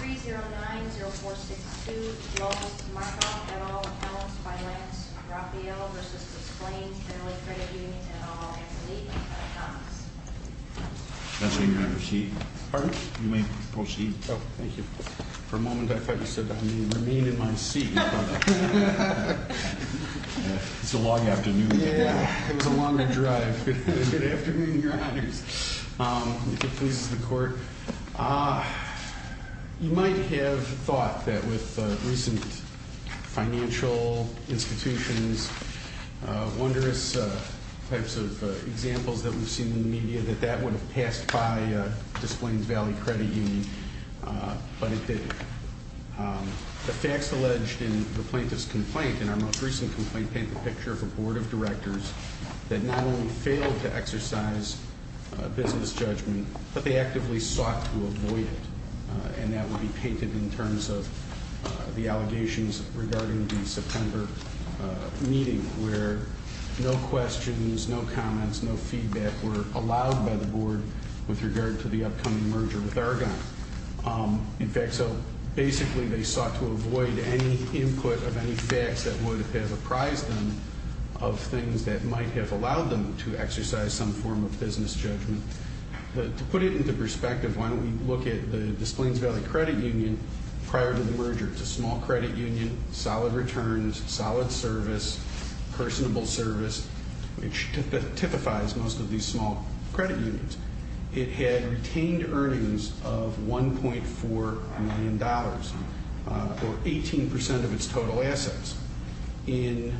3-0-9-0-4-6-2, Joseph Markoff, et al., accounts by Lance Raphael v. Des Plaines Valley Credit Union, et al., Anthony Thomas. You might have thought that with recent financial institutions, wondrous types of examples that we've seen in the media, that that would have passed by Des Plaines Valley Credit Union, but it didn't. The facts alleged in the plaintiff's complaint, in our most recent complaint, paint the picture of a board of directors that not only failed to exercise business judgment, but they actively sought to avoid it. And that would be painted in terms of the allegations regarding the September meeting, where no questions, no comments, no feedback were allowed by the board with regard to the upcoming merger with Argonne. In fact, so basically they sought to avoid any input of any facts that would have apprised them of things that might have allowed them to exercise some form of business judgment. To put it into perspective, why don't we look at the Des Plaines Valley Credit Union prior to the merger. It's a small credit union, solid returns, solid service, personable service, which typifies most of these small credit unions. It had retained earnings of $1.4 million, or 18% of its total assets. In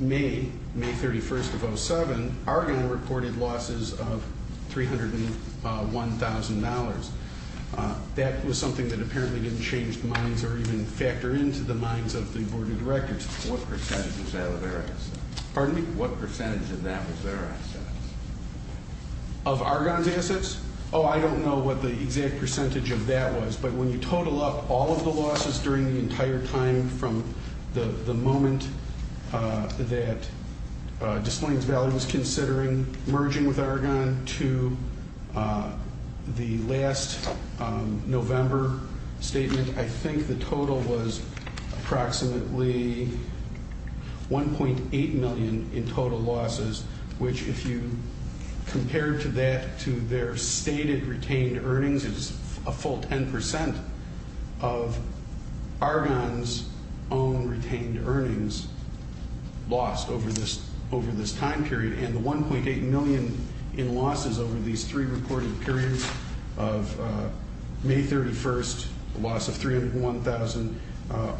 May, May 31st of 07, Argonne reported losses of $301,000. That was something that apparently didn't change minds or even factor into the minds of the board of directors. What percentage of that was their assets? Pardon me? What percentage of that was their assets? Of Argonne's assets? Oh, I don't know what the exact percentage of that was. But when you total up all of the losses during the entire time from the moment that Des Plaines Valley was considering merging with Argonne to the last November statement, I think the total was approximately $1.8 million in total losses, which if you compare that to their stated retained earnings, it's a full 10% of Argonne's own retained earnings lost over this time period. And the $1.8 million in losses over these three reported periods of May 31st, a loss of $301,000,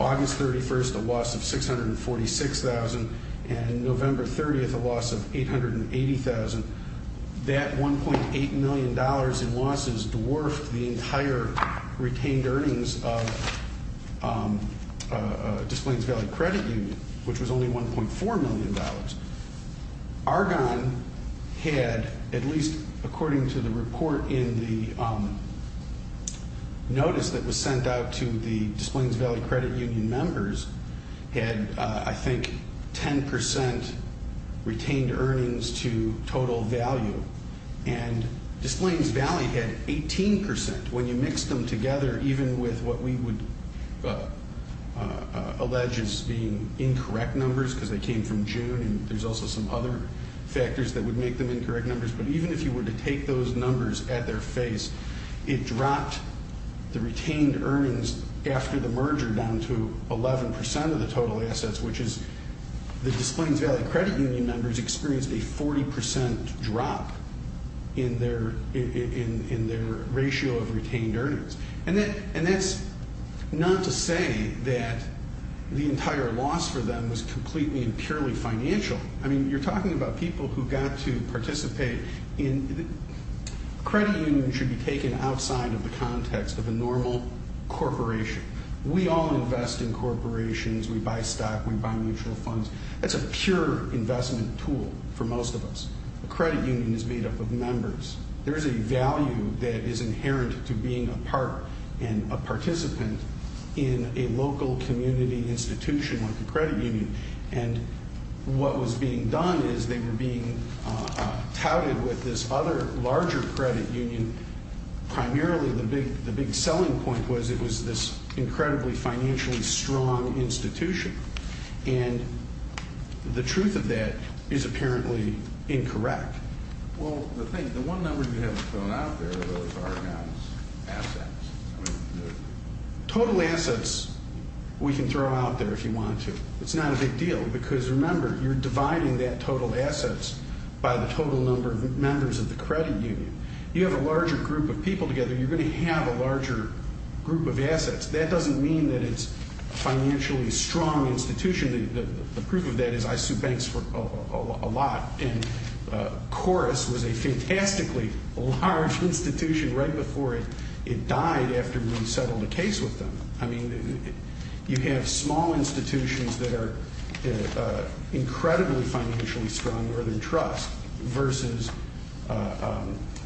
August 31st, a loss of $646,000, and November 30th, a loss of $880,000, that $1.8 million in losses dwarfed the entire retained earnings of Des Plaines Valley Credit Union, which was only $1.4 million. Argonne had, at least according to the report in the notice that was sent out to the Des Plaines Valley Credit Union members, had, I think, 10% retained earnings to total value. And Des Plaines Valley had 18% when you mixed them together, even with what we would allege as being incorrect numbers, because they came from June and there's also some other factors that would make them incorrect numbers. But even if you were to take those numbers at their face, it dropped the retained earnings after the merger down to 11% of the total assets, which is the Des Plaines Valley Credit Union members experienced a 40% drop in their ratio of retained earnings. And that's not to say that the entire loss for them was completely and purely financial. I mean, you're talking about people who got to participate in – credit unions should be taken outside of the context of a normal corporation. We all invest in corporations, we buy stock, we buy mutual funds. That's a pure investment tool for most of us. A credit union is made up of members. There is a value that is inherent to being a part and a participant in a local community institution like a credit union. And what was being done is they were being touted with this other larger credit union. And primarily the big selling point was it was this incredibly financially strong institution. And the truth of that is apparently incorrect. Well, the thing – the one number you haven't thrown out there are those Argonne's assets. Total assets we can throw out there if you want to. It's not a big deal, because remember, you're dividing that total assets by the total number of members of the credit union. You have a larger group of people together, you're going to have a larger group of assets. That doesn't mean that it's a financially strong institution. The proof of that is I sued banks a lot, and Chorus was a fantastically large institution right before it died after we settled a case with them. I mean, you have small institutions that are incredibly financially strong, Northern Trust, versus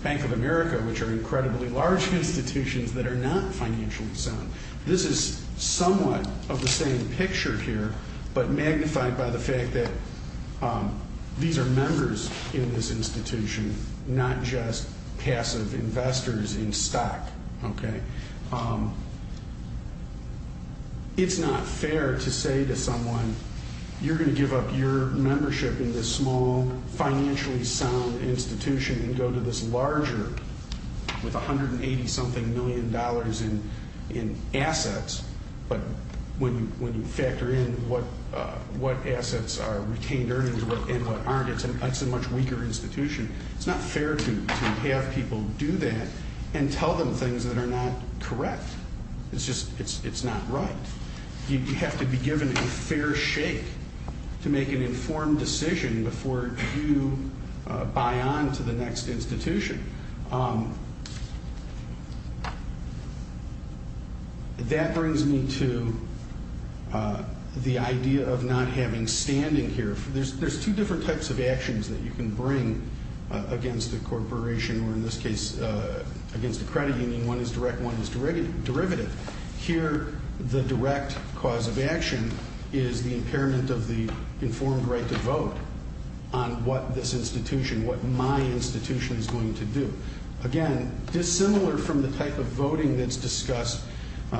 Bank of America, which are incredibly large institutions that are not financially sound. This is somewhat of the same picture here, but magnified by the fact that these are members in this institution, not just passive investors in stock. It's not fair to say to someone, you're going to give up your membership in this small, financially sound institution and go to this larger, with $180-something million in assets. But when you factor in what assets are retained earnings and what aren't, it's a much weaker institution. It's not fair to have people do that and tell them things that are not correct. It's just not right. You have to be given a fair shake to make an informed decision before you buy on to the next institution. That brings me to the idea of not having standing here. There's two different types of actions that you can bring against a corporation, or in this case against a credit union. One is direct, one is derivative. Here, the direct cause of action is the impairment of the informed right to vote on what this institution, what my institution is going to do. Again, dissimilar from the type of voting that's discussed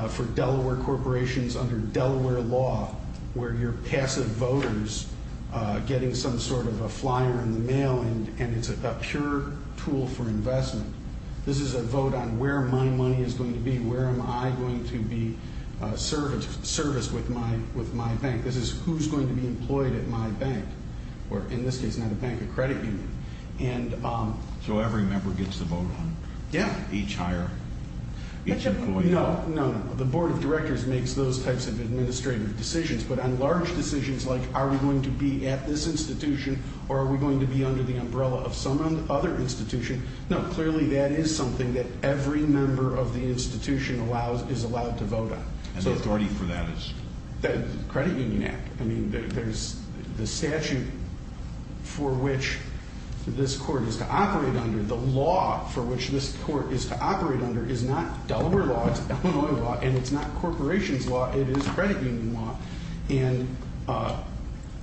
for Delaware corporations under Delaware law, where you're passive voters getting some sort of a flyer in the mail and it's a pure tool for investment, this is a vote on where my money is going to be, where am I going to be serviced with my bank. This is who's going to be employed at my bank, or in this case, not a bank, a credit union. So every member gets to vote on each hire, each employee. No, no, no. The board of directors makes those types of administrative decisions, but on large decisions like are we going to be at this institution or are we going to be under the umbrella of some other institution, no, clearly that is something that every member of the institution is allowed to vote on. And the authority for that is? The credit union act. I mean, there's the statute for which this court is to operate under. The law for which this court is to operate under is not Delaware law, it's Illinois law, and it's not corporations law, it is credit union law. And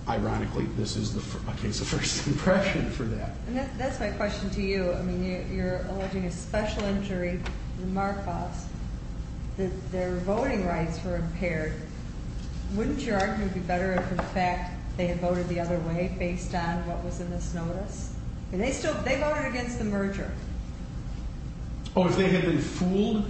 ironically, this is a case of first impression for that. And that's my question to you. I mean, you're alleging a special injury in Marcos. Their voting rights were impaired. Wouldn't your argument be better if, in fact, they had voted the other way based on what was in this notice? They voted against the merger. Oh, if they had been fooled?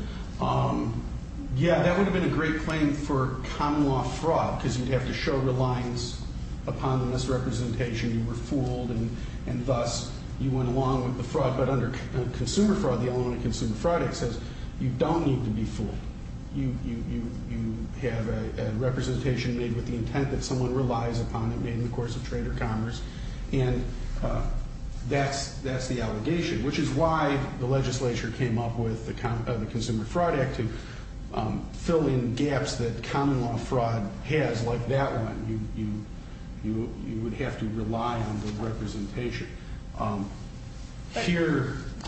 Yeah, that would have been a great claim for common law fraud because you'd have to show reliance upon the misrepresentation. You were fooled and thus you went along with the fraud. But under consumer fraud, the Illinois Consumer Fraud Act says you don't need to be fooled. You have a representation made with the intent that someone relies upon, made in the course of trade or commerce, and that's the allegation, which is why the legislature came up with the Consumer Fraud Act to fill in gaps that common law fraud has like that one. You would have to rely on the representation. But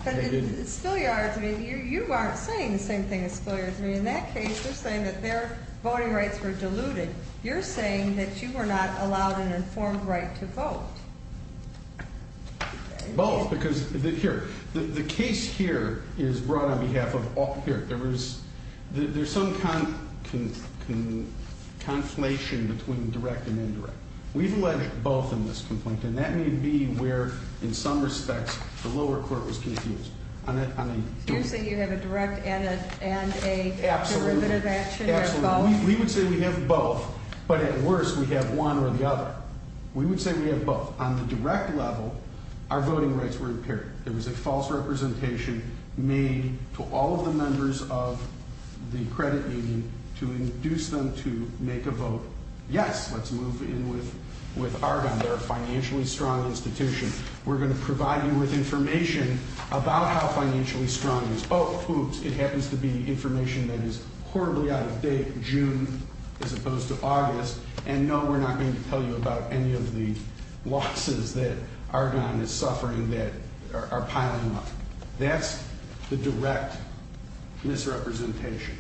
in Spill Yards, you aren't saying the same thing as Spill Yards. I mean, in that case, they're saying that their voting rights were diluted. You're saying that you were not allowed an informed right to vote. Both, because here, the case here is brought on behalf of all. Here, there's some conflation between direct and indirect. We've alleged both in this complaint, and that may be where, in some respects, the lower court was confused. So you're saying you have a direct and a derivative action of both? Absolutely. We would say we have both, but at worst, we have one or the other. We would say we have both. On the direct level, our voting rights were impaired. There was a false representation made to all of the members of the credit union to induce them to make a vote, yes, let's move in with Argonne. They're a financially strong institution. We're going to provide you with information about how financially strong it is. Oh, oops, it happens to be information that is horribly out of date, June as opposed to August. And no, we're not going to tell you about any of the losses that Argonne is suffering that are piling up. That's the direct misrepresentation.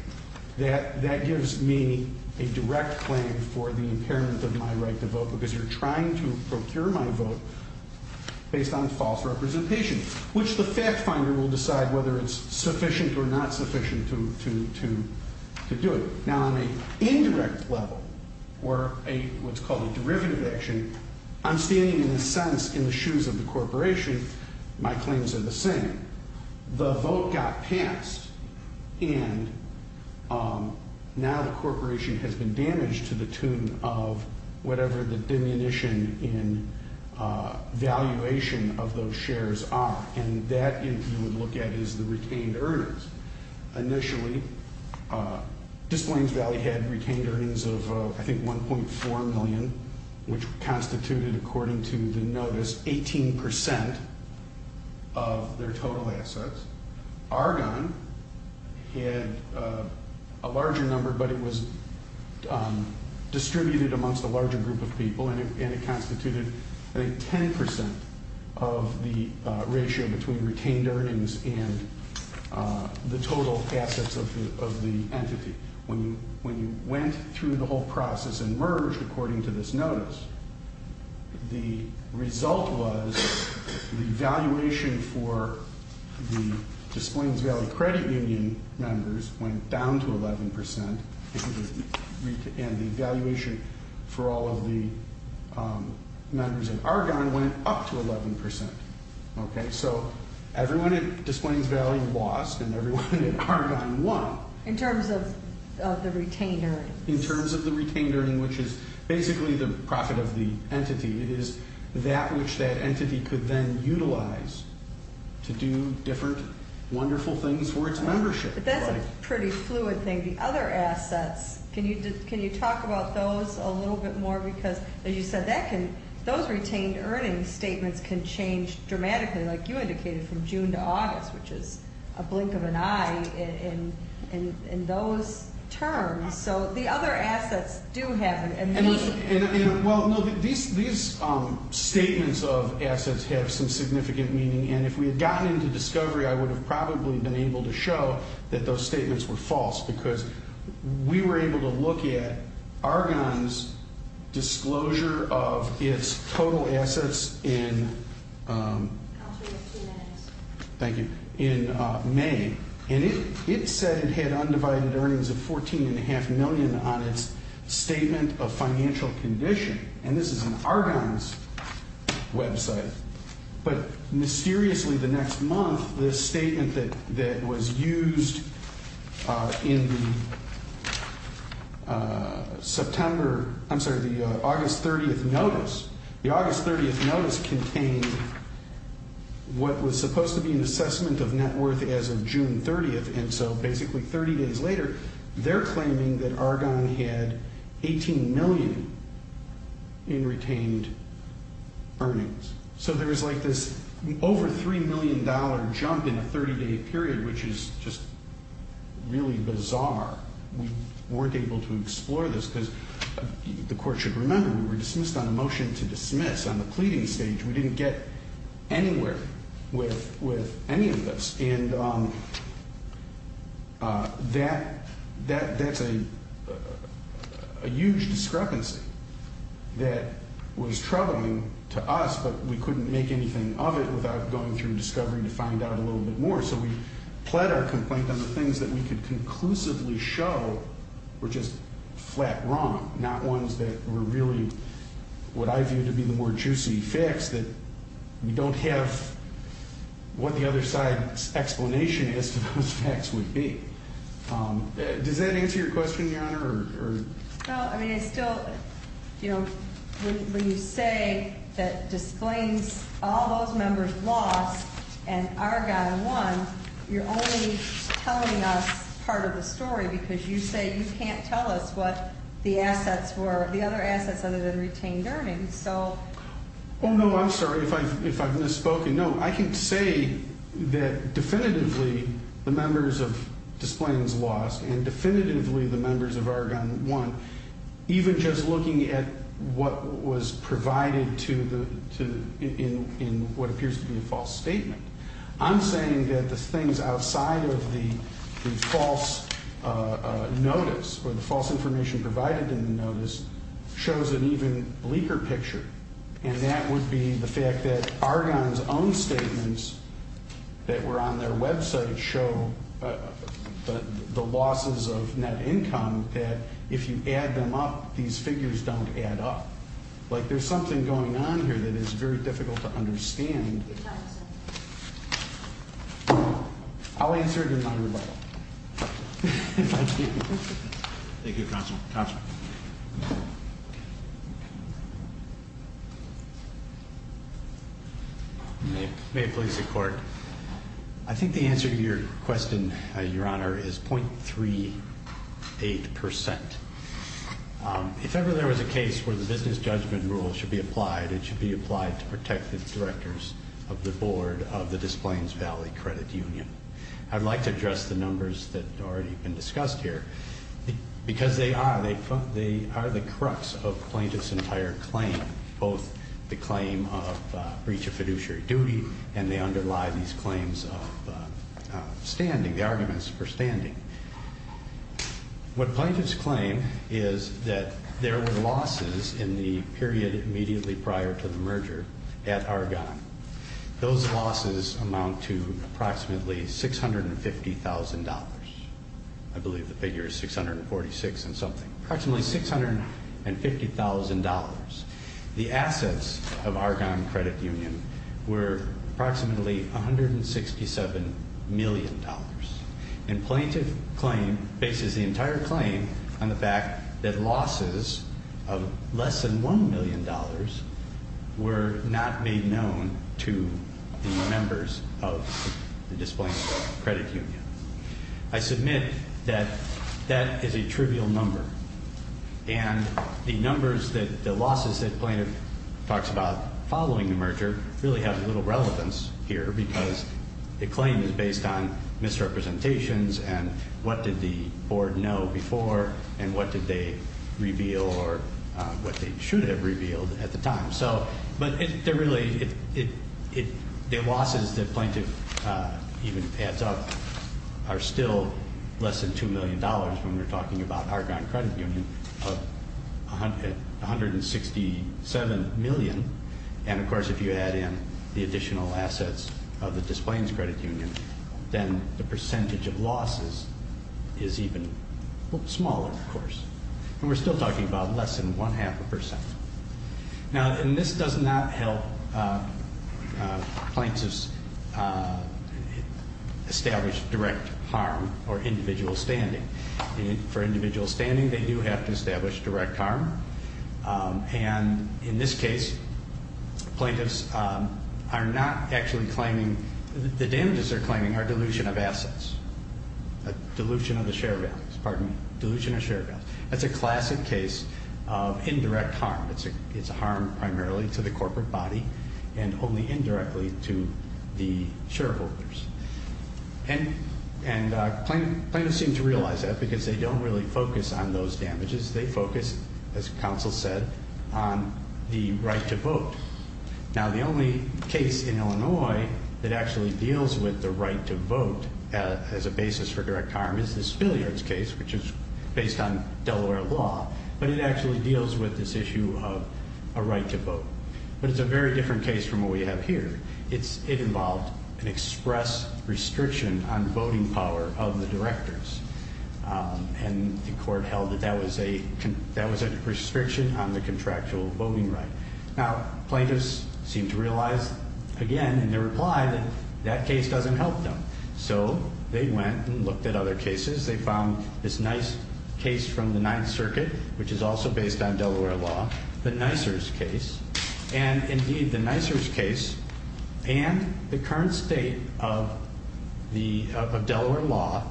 That gives me a direct claim for the impairment of my right to vote because you're trying to procure my vote based on false representation, which the fact finder will decide whether it's sufficient or not sufficient to do. Now, on the indirect level, or what's called a derivative action, I'm standing, in a sense, in the shoes of the corporation. My claims are the same. The vote got passed, and now the corporation has been damaged to the tune of whatever the diminution in valuation of those shares are, and that you would look at as the retained earnings. Initially, Displains Valley had retained earnings of, I think, $1.4 million, which constituted, according to the notice, 18% of their total assets. Argonne had a larger number, but it was distributed amongst a larger group of people, and it constituted, I think, 10% of the ratio between retained earnings and the total assets of the entity. When you went through the whole process and merged, according to this notice, the result was the valuation for the Displains Valley credit union members went down to 11%, and the valuation for all of the members in Argonne went up to 11%. So everyone at Displains Valley lost, and everyone at Argonne won. In terms of the retained earnings? In terms of the retained earnings, which is basically the profit of the entity. It is that which that entity could then utilize to do different wonderful things for its membership. But that's a pretty fluid thing. The other assets, can you talk about those a little bit more? Because, as you said, those retained earnings statements can change dramatically, like you indicated, from June to August, which is a blink of an eye in those terms. So the other assets do have a meaning. Well, these statements of assets have some significant meaning, and if we had gotten into discovery, I would have probably been able to show that those statements were false because we were able to look at Argonne's disclosure of its total assets in May. And it said it had undivided earnings of $14.5 million on its statement of financial condition. And this is in Argonne's website. But mysteriously, the next month, this statement that was used in the August 30th notice, the August 30th notice contained what was supposed to be an assessment of net worth as of June 30th, and so basically 30 days later, they're claiming that Argonne had $18 million in retained earnings. So there was like this over $3 million jump in a 30-day period, which is just really bizarre. We weren't able to explore this because, the Court should remember, we were dismissed on a motion to dismiss on the pleading stage. We didn't get anywhere with any of this. And that's a huge discrepancy that was troubling to us, but we couldn't make anything of it without going through discovery to find out a little bit more. So we pled our complaint on the things that we could conclusively show were just flat wrong, not ones that were really what I view to be the more juicy facts, that we don't have what the other side's explanation as to those facts would be. Does that answer your question, Your Honor? No. I mean, I still, you know, when you say that disclaims all those members lost and Argonne won, you're only telling us part of the story because you say you can't tell us what the assets were, the other assets other than retained earnings. Oh, no, I'm sorry if I've misspoken. No, I can say that definitively the members of displayings lost and definitively the members of Argonne won, even just looking at what was provided in what appears to be a false statement. I'm saying that the things outside of the false notice or the false information provided in the notice shows an even bleaker picture, and that would be the fact that Argonne's own statements that were on their website show the losses of net income that if you add them up, these figures don't add up. Like there's something going on here that is very difficult to understand. Your time is up. I'll answer it in my rebuttal. Thank you, Counselor. May it please the Court. I think the answer to your question, Your Honor, is 0.38%. If ever there was a case where the business judgment rule should be applied, it should be applied to protective directors of the board of the Displayings Valley Credit Union. I'd like to address the numbers that have already been discussed here because they are the crux of the plaintiff's entire claim, both the claim of breach of fiduciary duty and they underlie these claims of standing, the arguments for standing. What plaintiffs claim is that there were losses in the period immediately prior to the merger at Argonne. Those losses amount to approximately $650,000. I believe the figure is 646 and something. Approximately $650,000. The assets of Argonne Credit Union were approximately $167 million. And plaintiff's claim bases the entire claim on the fact that losses of less than $1 million were not made known to the members of the Displaying Valley Credit Union. I submit that that is a trivial number. And the numbers that the losses that the plaintiff talks about following the merger really have little relevance here because the claim is based on misrepresentations and what did the board know before and what did they reveal or what they should have revealed at the time. But the losses the plaintiff even adds up are still less than $2 million when we're talking about Argonne Credit Union of $167 million. And, of course, if you add in the additional assets of the Displaying Credit Union, then the percentage of losses is even smaller, of course. And we're still talking about less than one-half a percent. Now, and this does not help plaintiffs establish direct harm or individual standing. For individual standing, they do have to establish direct harm. And in this case, plaintiffs are not actually claiming, the damages they're claiming are dilution of assets, dilution of the share values. Pardon me. Dilution of share values. That's a classic case of indirect harm. It's a harm primarily to the corporate body and only indirectly to the shareholders. And plaintiffs seem to realize that because they don't really focus on those damages. They focus, as counsel said, on the right to vote. Now, the only case in Illinois that actually deals with the right to vote as a basis for direct harm is this Spilliards case, which is based on Delaware law, but it actually deals with this issue of a right to vote. But it's a very different case from what we have here. It involved an express restriction on voting power of the directors. And the court held that that was a restriction on the contractual voting right. Now, plaintiffs seem to realize, again, in their reply, that that case doesn't help them. So they went and looked at other cases. They found this nice case from the Ninth Circuit, which is also based on Delaware law, the Nisers case. And, indeed, the Nisers case and the current state of Delaware law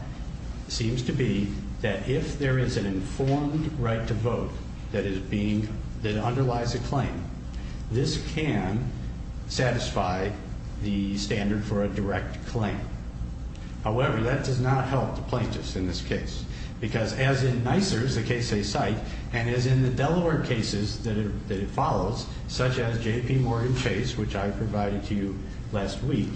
seems to be that if there is an informed right to vote that underlies a claim, this can satisfy the standard for a direct claim. However, that does not help the plaintiffs in this case. Because as in Nisers, the case they cite, and as in the Delaware cases that it follows, such as J.P. Morgan Chase, which I provided to you last week,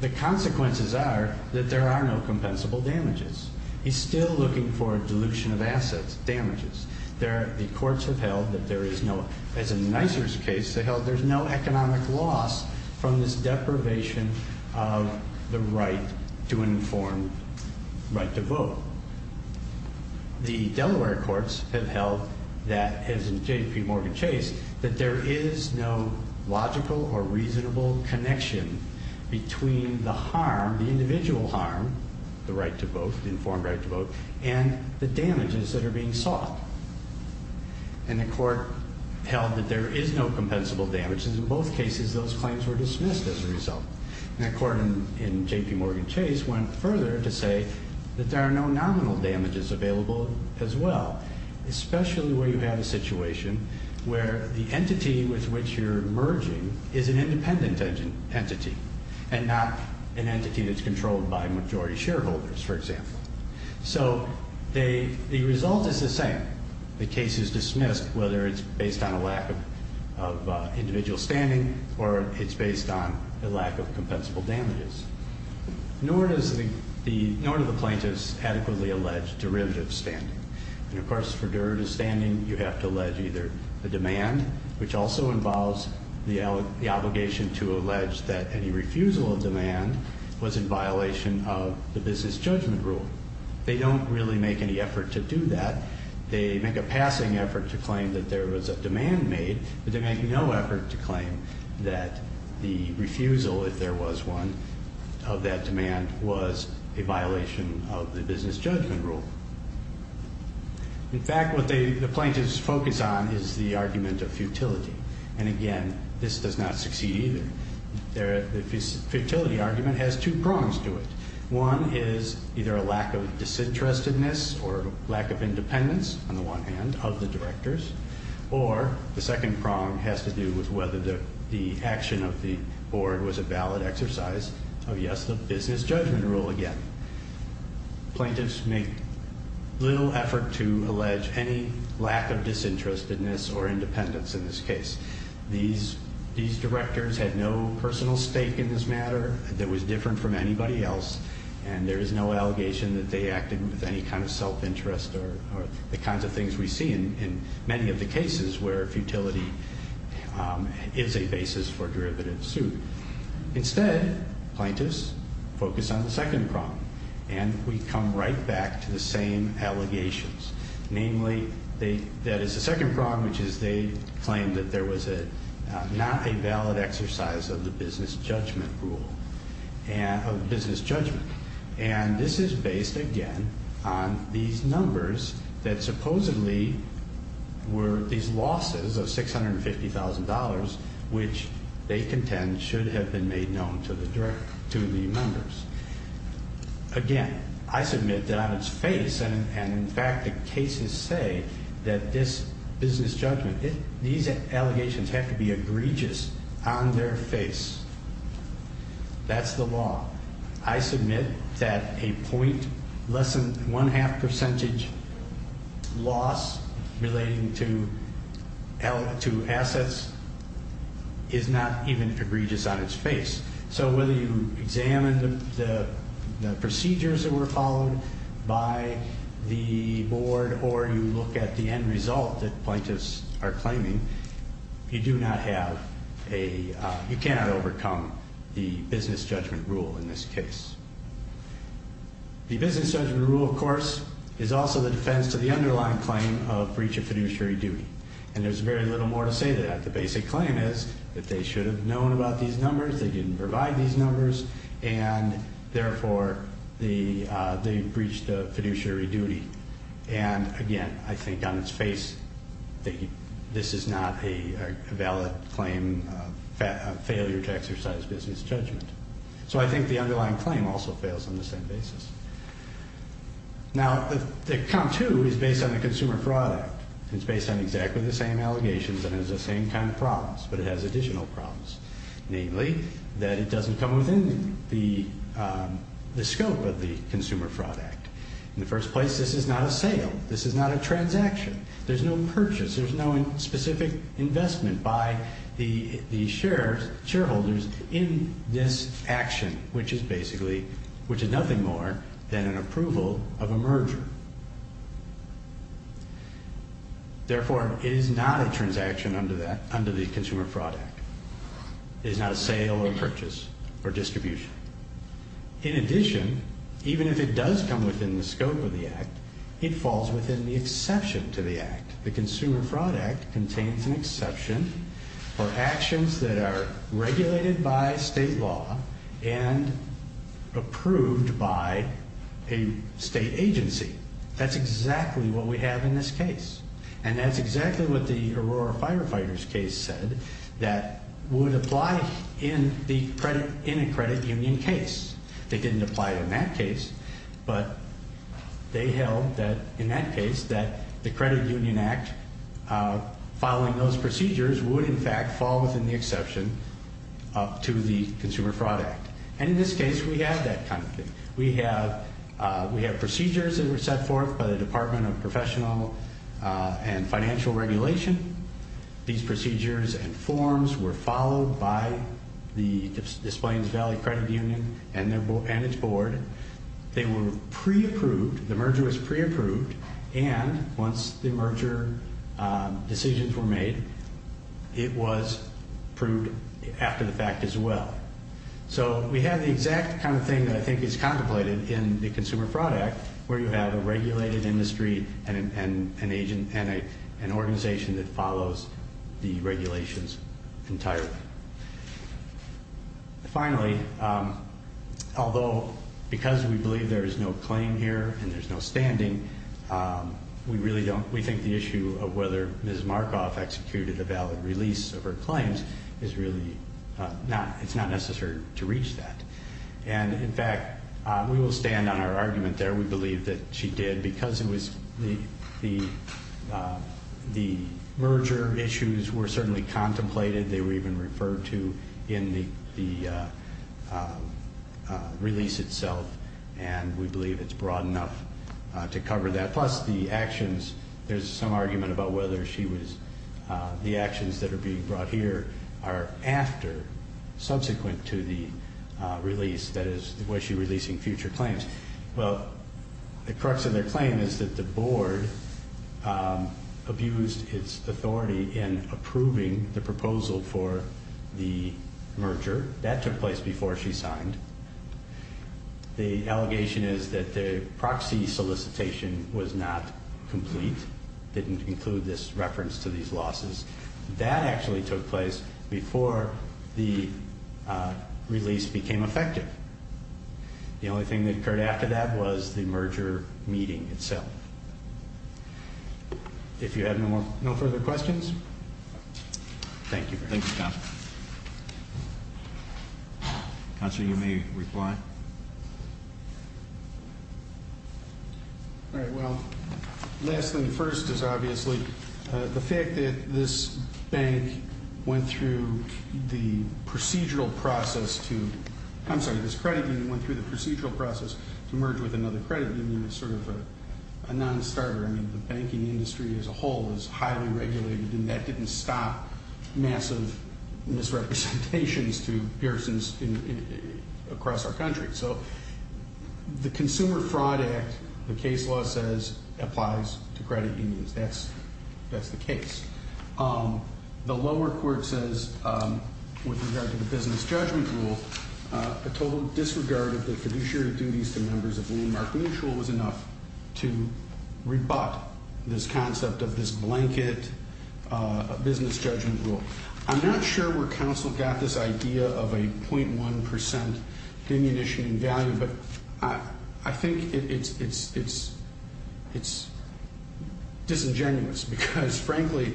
the consequences are that there are no compensable damages. He's still looking for dilution of assets, damages. The courts have held that there is no, as in the Nisers case, they held there's no economic loss from this deprivation of the right to an informed right to vote. The Delaware courts have held that, as in J.P. Morgan Chase, that there is no logical or reasonable connection between the harm, the individual harm, the right to vote, the informed right to vote, and the damages that are being sought. And the court held that there is no compensable damages. In both cases, those claims were dismissed as a result. And the court in J.P. Morgan Chase went further to say that there are no nominal damages available as well, especially where you have a situation where the entity with which you're merging is an independent entity and not an entity that's controlled by majority shareholders, for example. So the result is the same. The case is dismissed whether it's based on a lack of individual standing or it's based on a lack of compensable damages. Nor does the plaintiff's adequately alleged derivative standing. And, of course, for derivative standing, you have to allege either the demand, which also involves the obligation to allege that any refusal of demand was in violation of the business judgment rule. They don't really make any effort to do that. They make a passing effort to claim that there was a demand made, but they make no effort to claim that the refusal, if there was one, of that demand was a violation of the business judgment rule. In fact, what the plaintiffs focus on is the argument of futility. And, again, this does not succeed either. The futility argument has two prongs to it. One is either a lack of disinterestedness or lack of independence, on the one hand, of the directors. Or the second prong has to do with whether the action of the board was a valid exercise of, yes, the business judgment rule again. Plaintiffs make little effort to allege any lack of disinterestedness or independence in this case. These directors had no personal stake in this matter that was different from anybody else, and there is no allegation that they acted with any kind of self-interest or the kinds of things we see in many of the cases where futility is a basis for derivative suit. Instead, plaintiffs focus on the second prong, and we come right back to the same allegations. Namely, that is the second prong, which is they claim that there was not a valid exercise of the business judgment rule, of business judgment. And this is based, again, on these numbers that supposedly were these losses of $650,000, which they contend should have been made known to the members. Again, I submit that on its face, and in fact the cases say that this business judgment, these allegations have to be egregious on their face. That's the law. I submit that a point less than one-half percentage loss relating to assets is not even egregious on its face. So whether you examine the procedures that were followed by the board or you look at the end result that plaintiffs are claiming, you do not have a, you cannot overcome the business judgment rule in this case. The business judgment rule, of course, is also the defense to the underlying claim of breach of fiduciary duty, and there's very little more to say than that. The basic claim is that they should have known about these numbers, they didn't provide these numbers, and therefore they breached the fiduciary duty. And again, I think on its face, this is not a valid claim of failure to exercise business judgment. So I think the underlying claim also fails on the same basis. Now, the Comp 2 is based on the Consumer Fraud Act. It's based on exactly the same allegations and has the same kind of problems, but it has additional problems, namely that it doesn't come within the scope of the Consumer Fraud Act. In the first place, this is not a sale. This is not a transaction. There's no purchase, there's no specific investment by the shareholders in this action, which is basically, which is nothing more than an approval of a merger. Therefore, it is not a transaction under the Consumer Fraud Act. It is not a sale or purchase or distribution. In addition, even if it does come within the scope of the Act, it falls within the exception to the Act. The Consumer Fraud Act contains an exception for actions that are regulated by state law and approved by a state agency. That's exactly what we have in this case. And that's exactly what the Aurora Firefighters case said, that would apply in a credit union case. It didn't apply in that case, but they held that in that case that the Credit Union Act, following those procedures, would in fact fall within the exception to the Consumer Fraud Act. And in this case, we have that kind of thing. We have procedures that were set forth by the Department of Professional and Financial Regulation. These procedures and forms were followed by the Des Plaines Valley Credit Union and its board. They were pre-approved. The merger was pre-approved, and once the merger decisions were made, it was approved after the fact as well. So we have the exact kind of thing that I think is contemplated in the Consumer Fraud Act, where you have a regulated industry and an organization that follows the regulations entirely. Finally, although because we believe there is no claim here and there's no standing, we really don't. We think the issue of whether Ms. Markoff executed a valid release of her claims is really not. It's not necessary to reach that. And in fact, we will stand on our argument there. We believe that she did because the merger issues were certainly contemplated. They were even referred to in the release itself, and we believe it's broad enough to cover that. Plus the actions, there's some argument about whether the actions that are being brought here are after, subsequent to the release, that is, was she releasing future claims? Well, the crux of their claim is that the board abused its authority in approving the proposal for the merger. That took place before she signed. The allegation is that the proxy solicitation was not complete, didn't include this reference to these losses. That actually took place before the release became effective. The only thing that occurred after that was the merger meeting itself. If you have no further questions? Thank you. Thank you, Counselor. All right. Well, last thing first is obviously the fact that this bank went through the procedural process to, I'm sorry, this credit union went through the procedural process to merge with another credit union is sort of a nonstarter. I mean, the banking industry as a whole is highly regulated, and that didn't stop massive misrepresentations to persons across our country. So the Consumer Fraud Act, the case law says, applies to credit unions. That's the case. The lower court says, with regard to the business judgment rule, a total disregard of the fiduciary duties to members of the landmark mutual was enough to rebut this concept of this blanket business judgment rule. I'm not sure where counsel got this idea of a .1 percent diminution in value, but I think it's disingenuous because, frankly,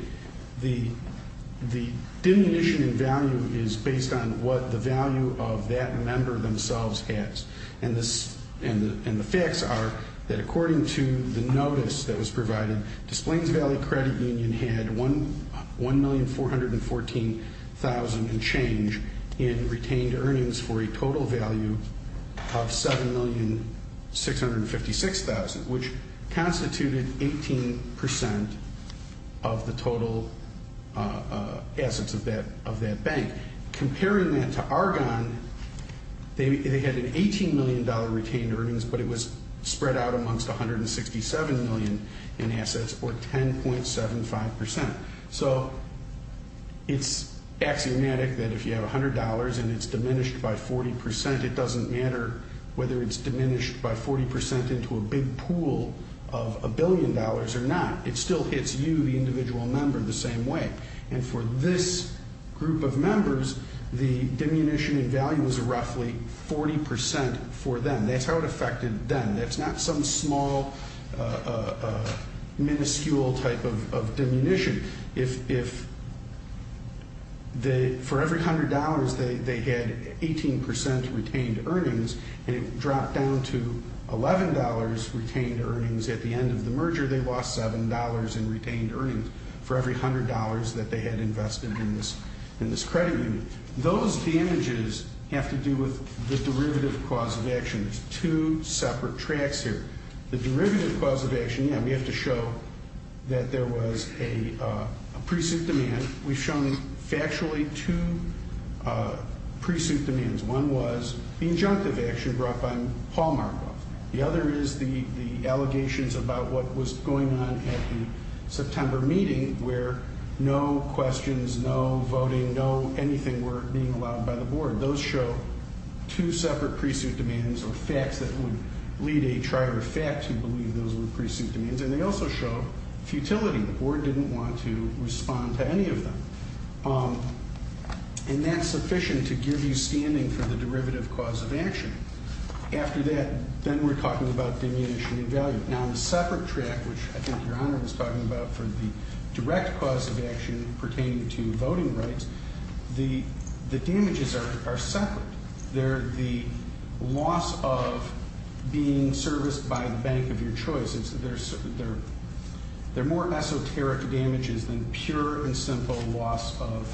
the diminution in value is based on what the value of that member themselves has. And the facts are that, according to the notice that was provided, Displains Valley Credit Union had $1,414,000 in change in retained earnings for a total value of $7,656,000, which constituted 18 percent of the total assets of that bank. And comparing that to Argonne, they had an $18 million retained earnings, but it was spread out amongst 167 million in assets, or 10.75 percent. So it's axiomatic that if you have $100 and it's diminished by 40 percent, it doesn't matter whether it's diminished by 40 percent into a big pool of a billion dollars or not. It still hits you, the individual member, the same way. And for this group of members, the diminution in value was roughly 40 percent for them. That's how it affected them. That's not some small, minuscule type of diminution. If they, for every $100, they had 18 percent retained earnings, and it dropped down to $11 retained earnings at the end of the merger, they lost $7 in retained earnings. For every $100 that they had invested in this credit unit. Those damages have to do with the derivative cause of action. There's two separate tracks here. The derivative cause of action, yeah, we have to show that there was a pre-suit demand. We've shown factually two pre-suit demands. One was the injunctive action brought by Paul Markoff. The other is the allegations about what was going on at the September meeting, where no questions, no voting, no anything were being allowed by the board. Those show two separate pre-suit demands or facts that would lead a trier of facts. You believe those were pre-suit demands. And they also show futility. The board didn't want to respond to any of them. And that's sufficient to give you standing for the derivative cause of action. After that, then we're talking about diminishing in value. Now, the separate track, which I think Your Honor was talking about, for the direct cause of action pertaining to voting rights, the damages are separate. They're the loss of being serviced by the bank of your choice. They're more esoteric damages than pure and simple loss of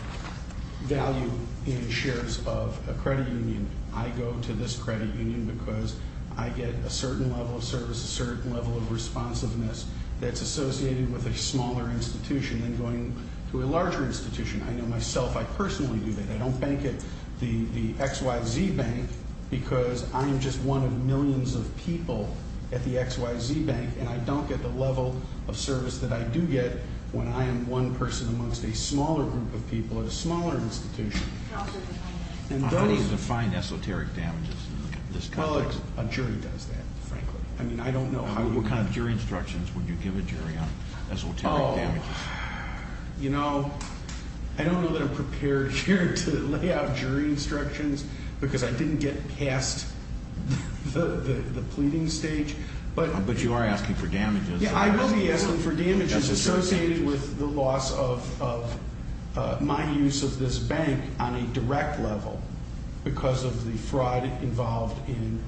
value in shares of a credit union. I go to this credit union because I get a certain level of service, a certain level of responsiveness that's associated with a smaller institution than going to a larger institution. I know myself, I personally do that. I don't bank at the XYZ Bank because I am just one of millions of people at the XYZ Bank, and I don't get the level of service that I do get when I am one person amongst a smaller group of people at a smaller institution. How do you define esoteric damages in this context? Well, a jury does that, frankly. I mean, I don't know. What kind of jury instructions would you give a jury on esoteric damages? Oh, you know, I don't know that I'm prepared here to lay out jury instructions because I didn't get past the pleading stage. But you are asking for damages. Yeah, I will be asking for damages associated with the loss of my use of this bank on a direct level because of the fraud involved in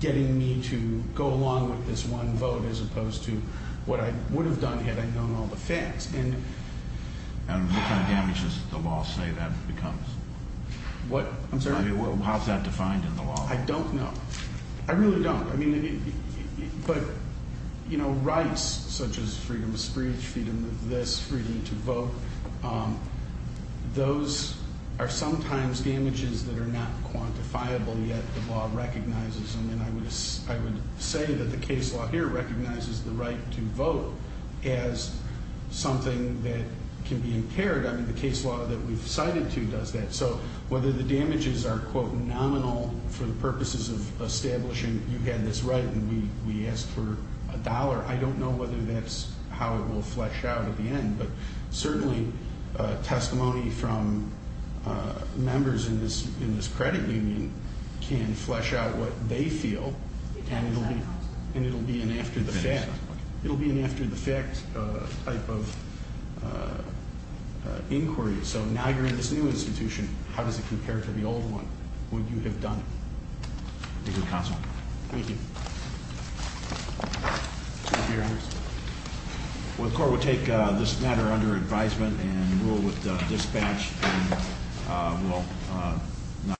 getting me to go along with this one vote as opposed to what I would have done had I known all the facts. And what kind of damages does the law say that becomes? What? I'm sorry? I mean, how is that defined in the law? Well, I don't know. I really don't. I mean, but, you know, rights such as freedom of speech, freedom of this, freedom to vote, those are sometimes damages that are not quantifiable yet the law recognizes them. And I would say that the case law here recognizes the right to vote as something that can be impaired. I mean, the case law that we've cited to does that. So whether the damages are, quote, nominal for the purposes of establishing you had this right and we asked for a dollar, I don't know whether that's how it will flesh out at the end. But certainly testimony from members in this credit union can flesh out what they feel, and it will be an after-the-fact type of inquiry. So now you're in this new institution. How does it compare to the old one? What would you have done? Thank you, counsel. Thank you. Thank you, Your Honor. Well, the court will take this matter under advisement and rule with dispatch. And we'll not.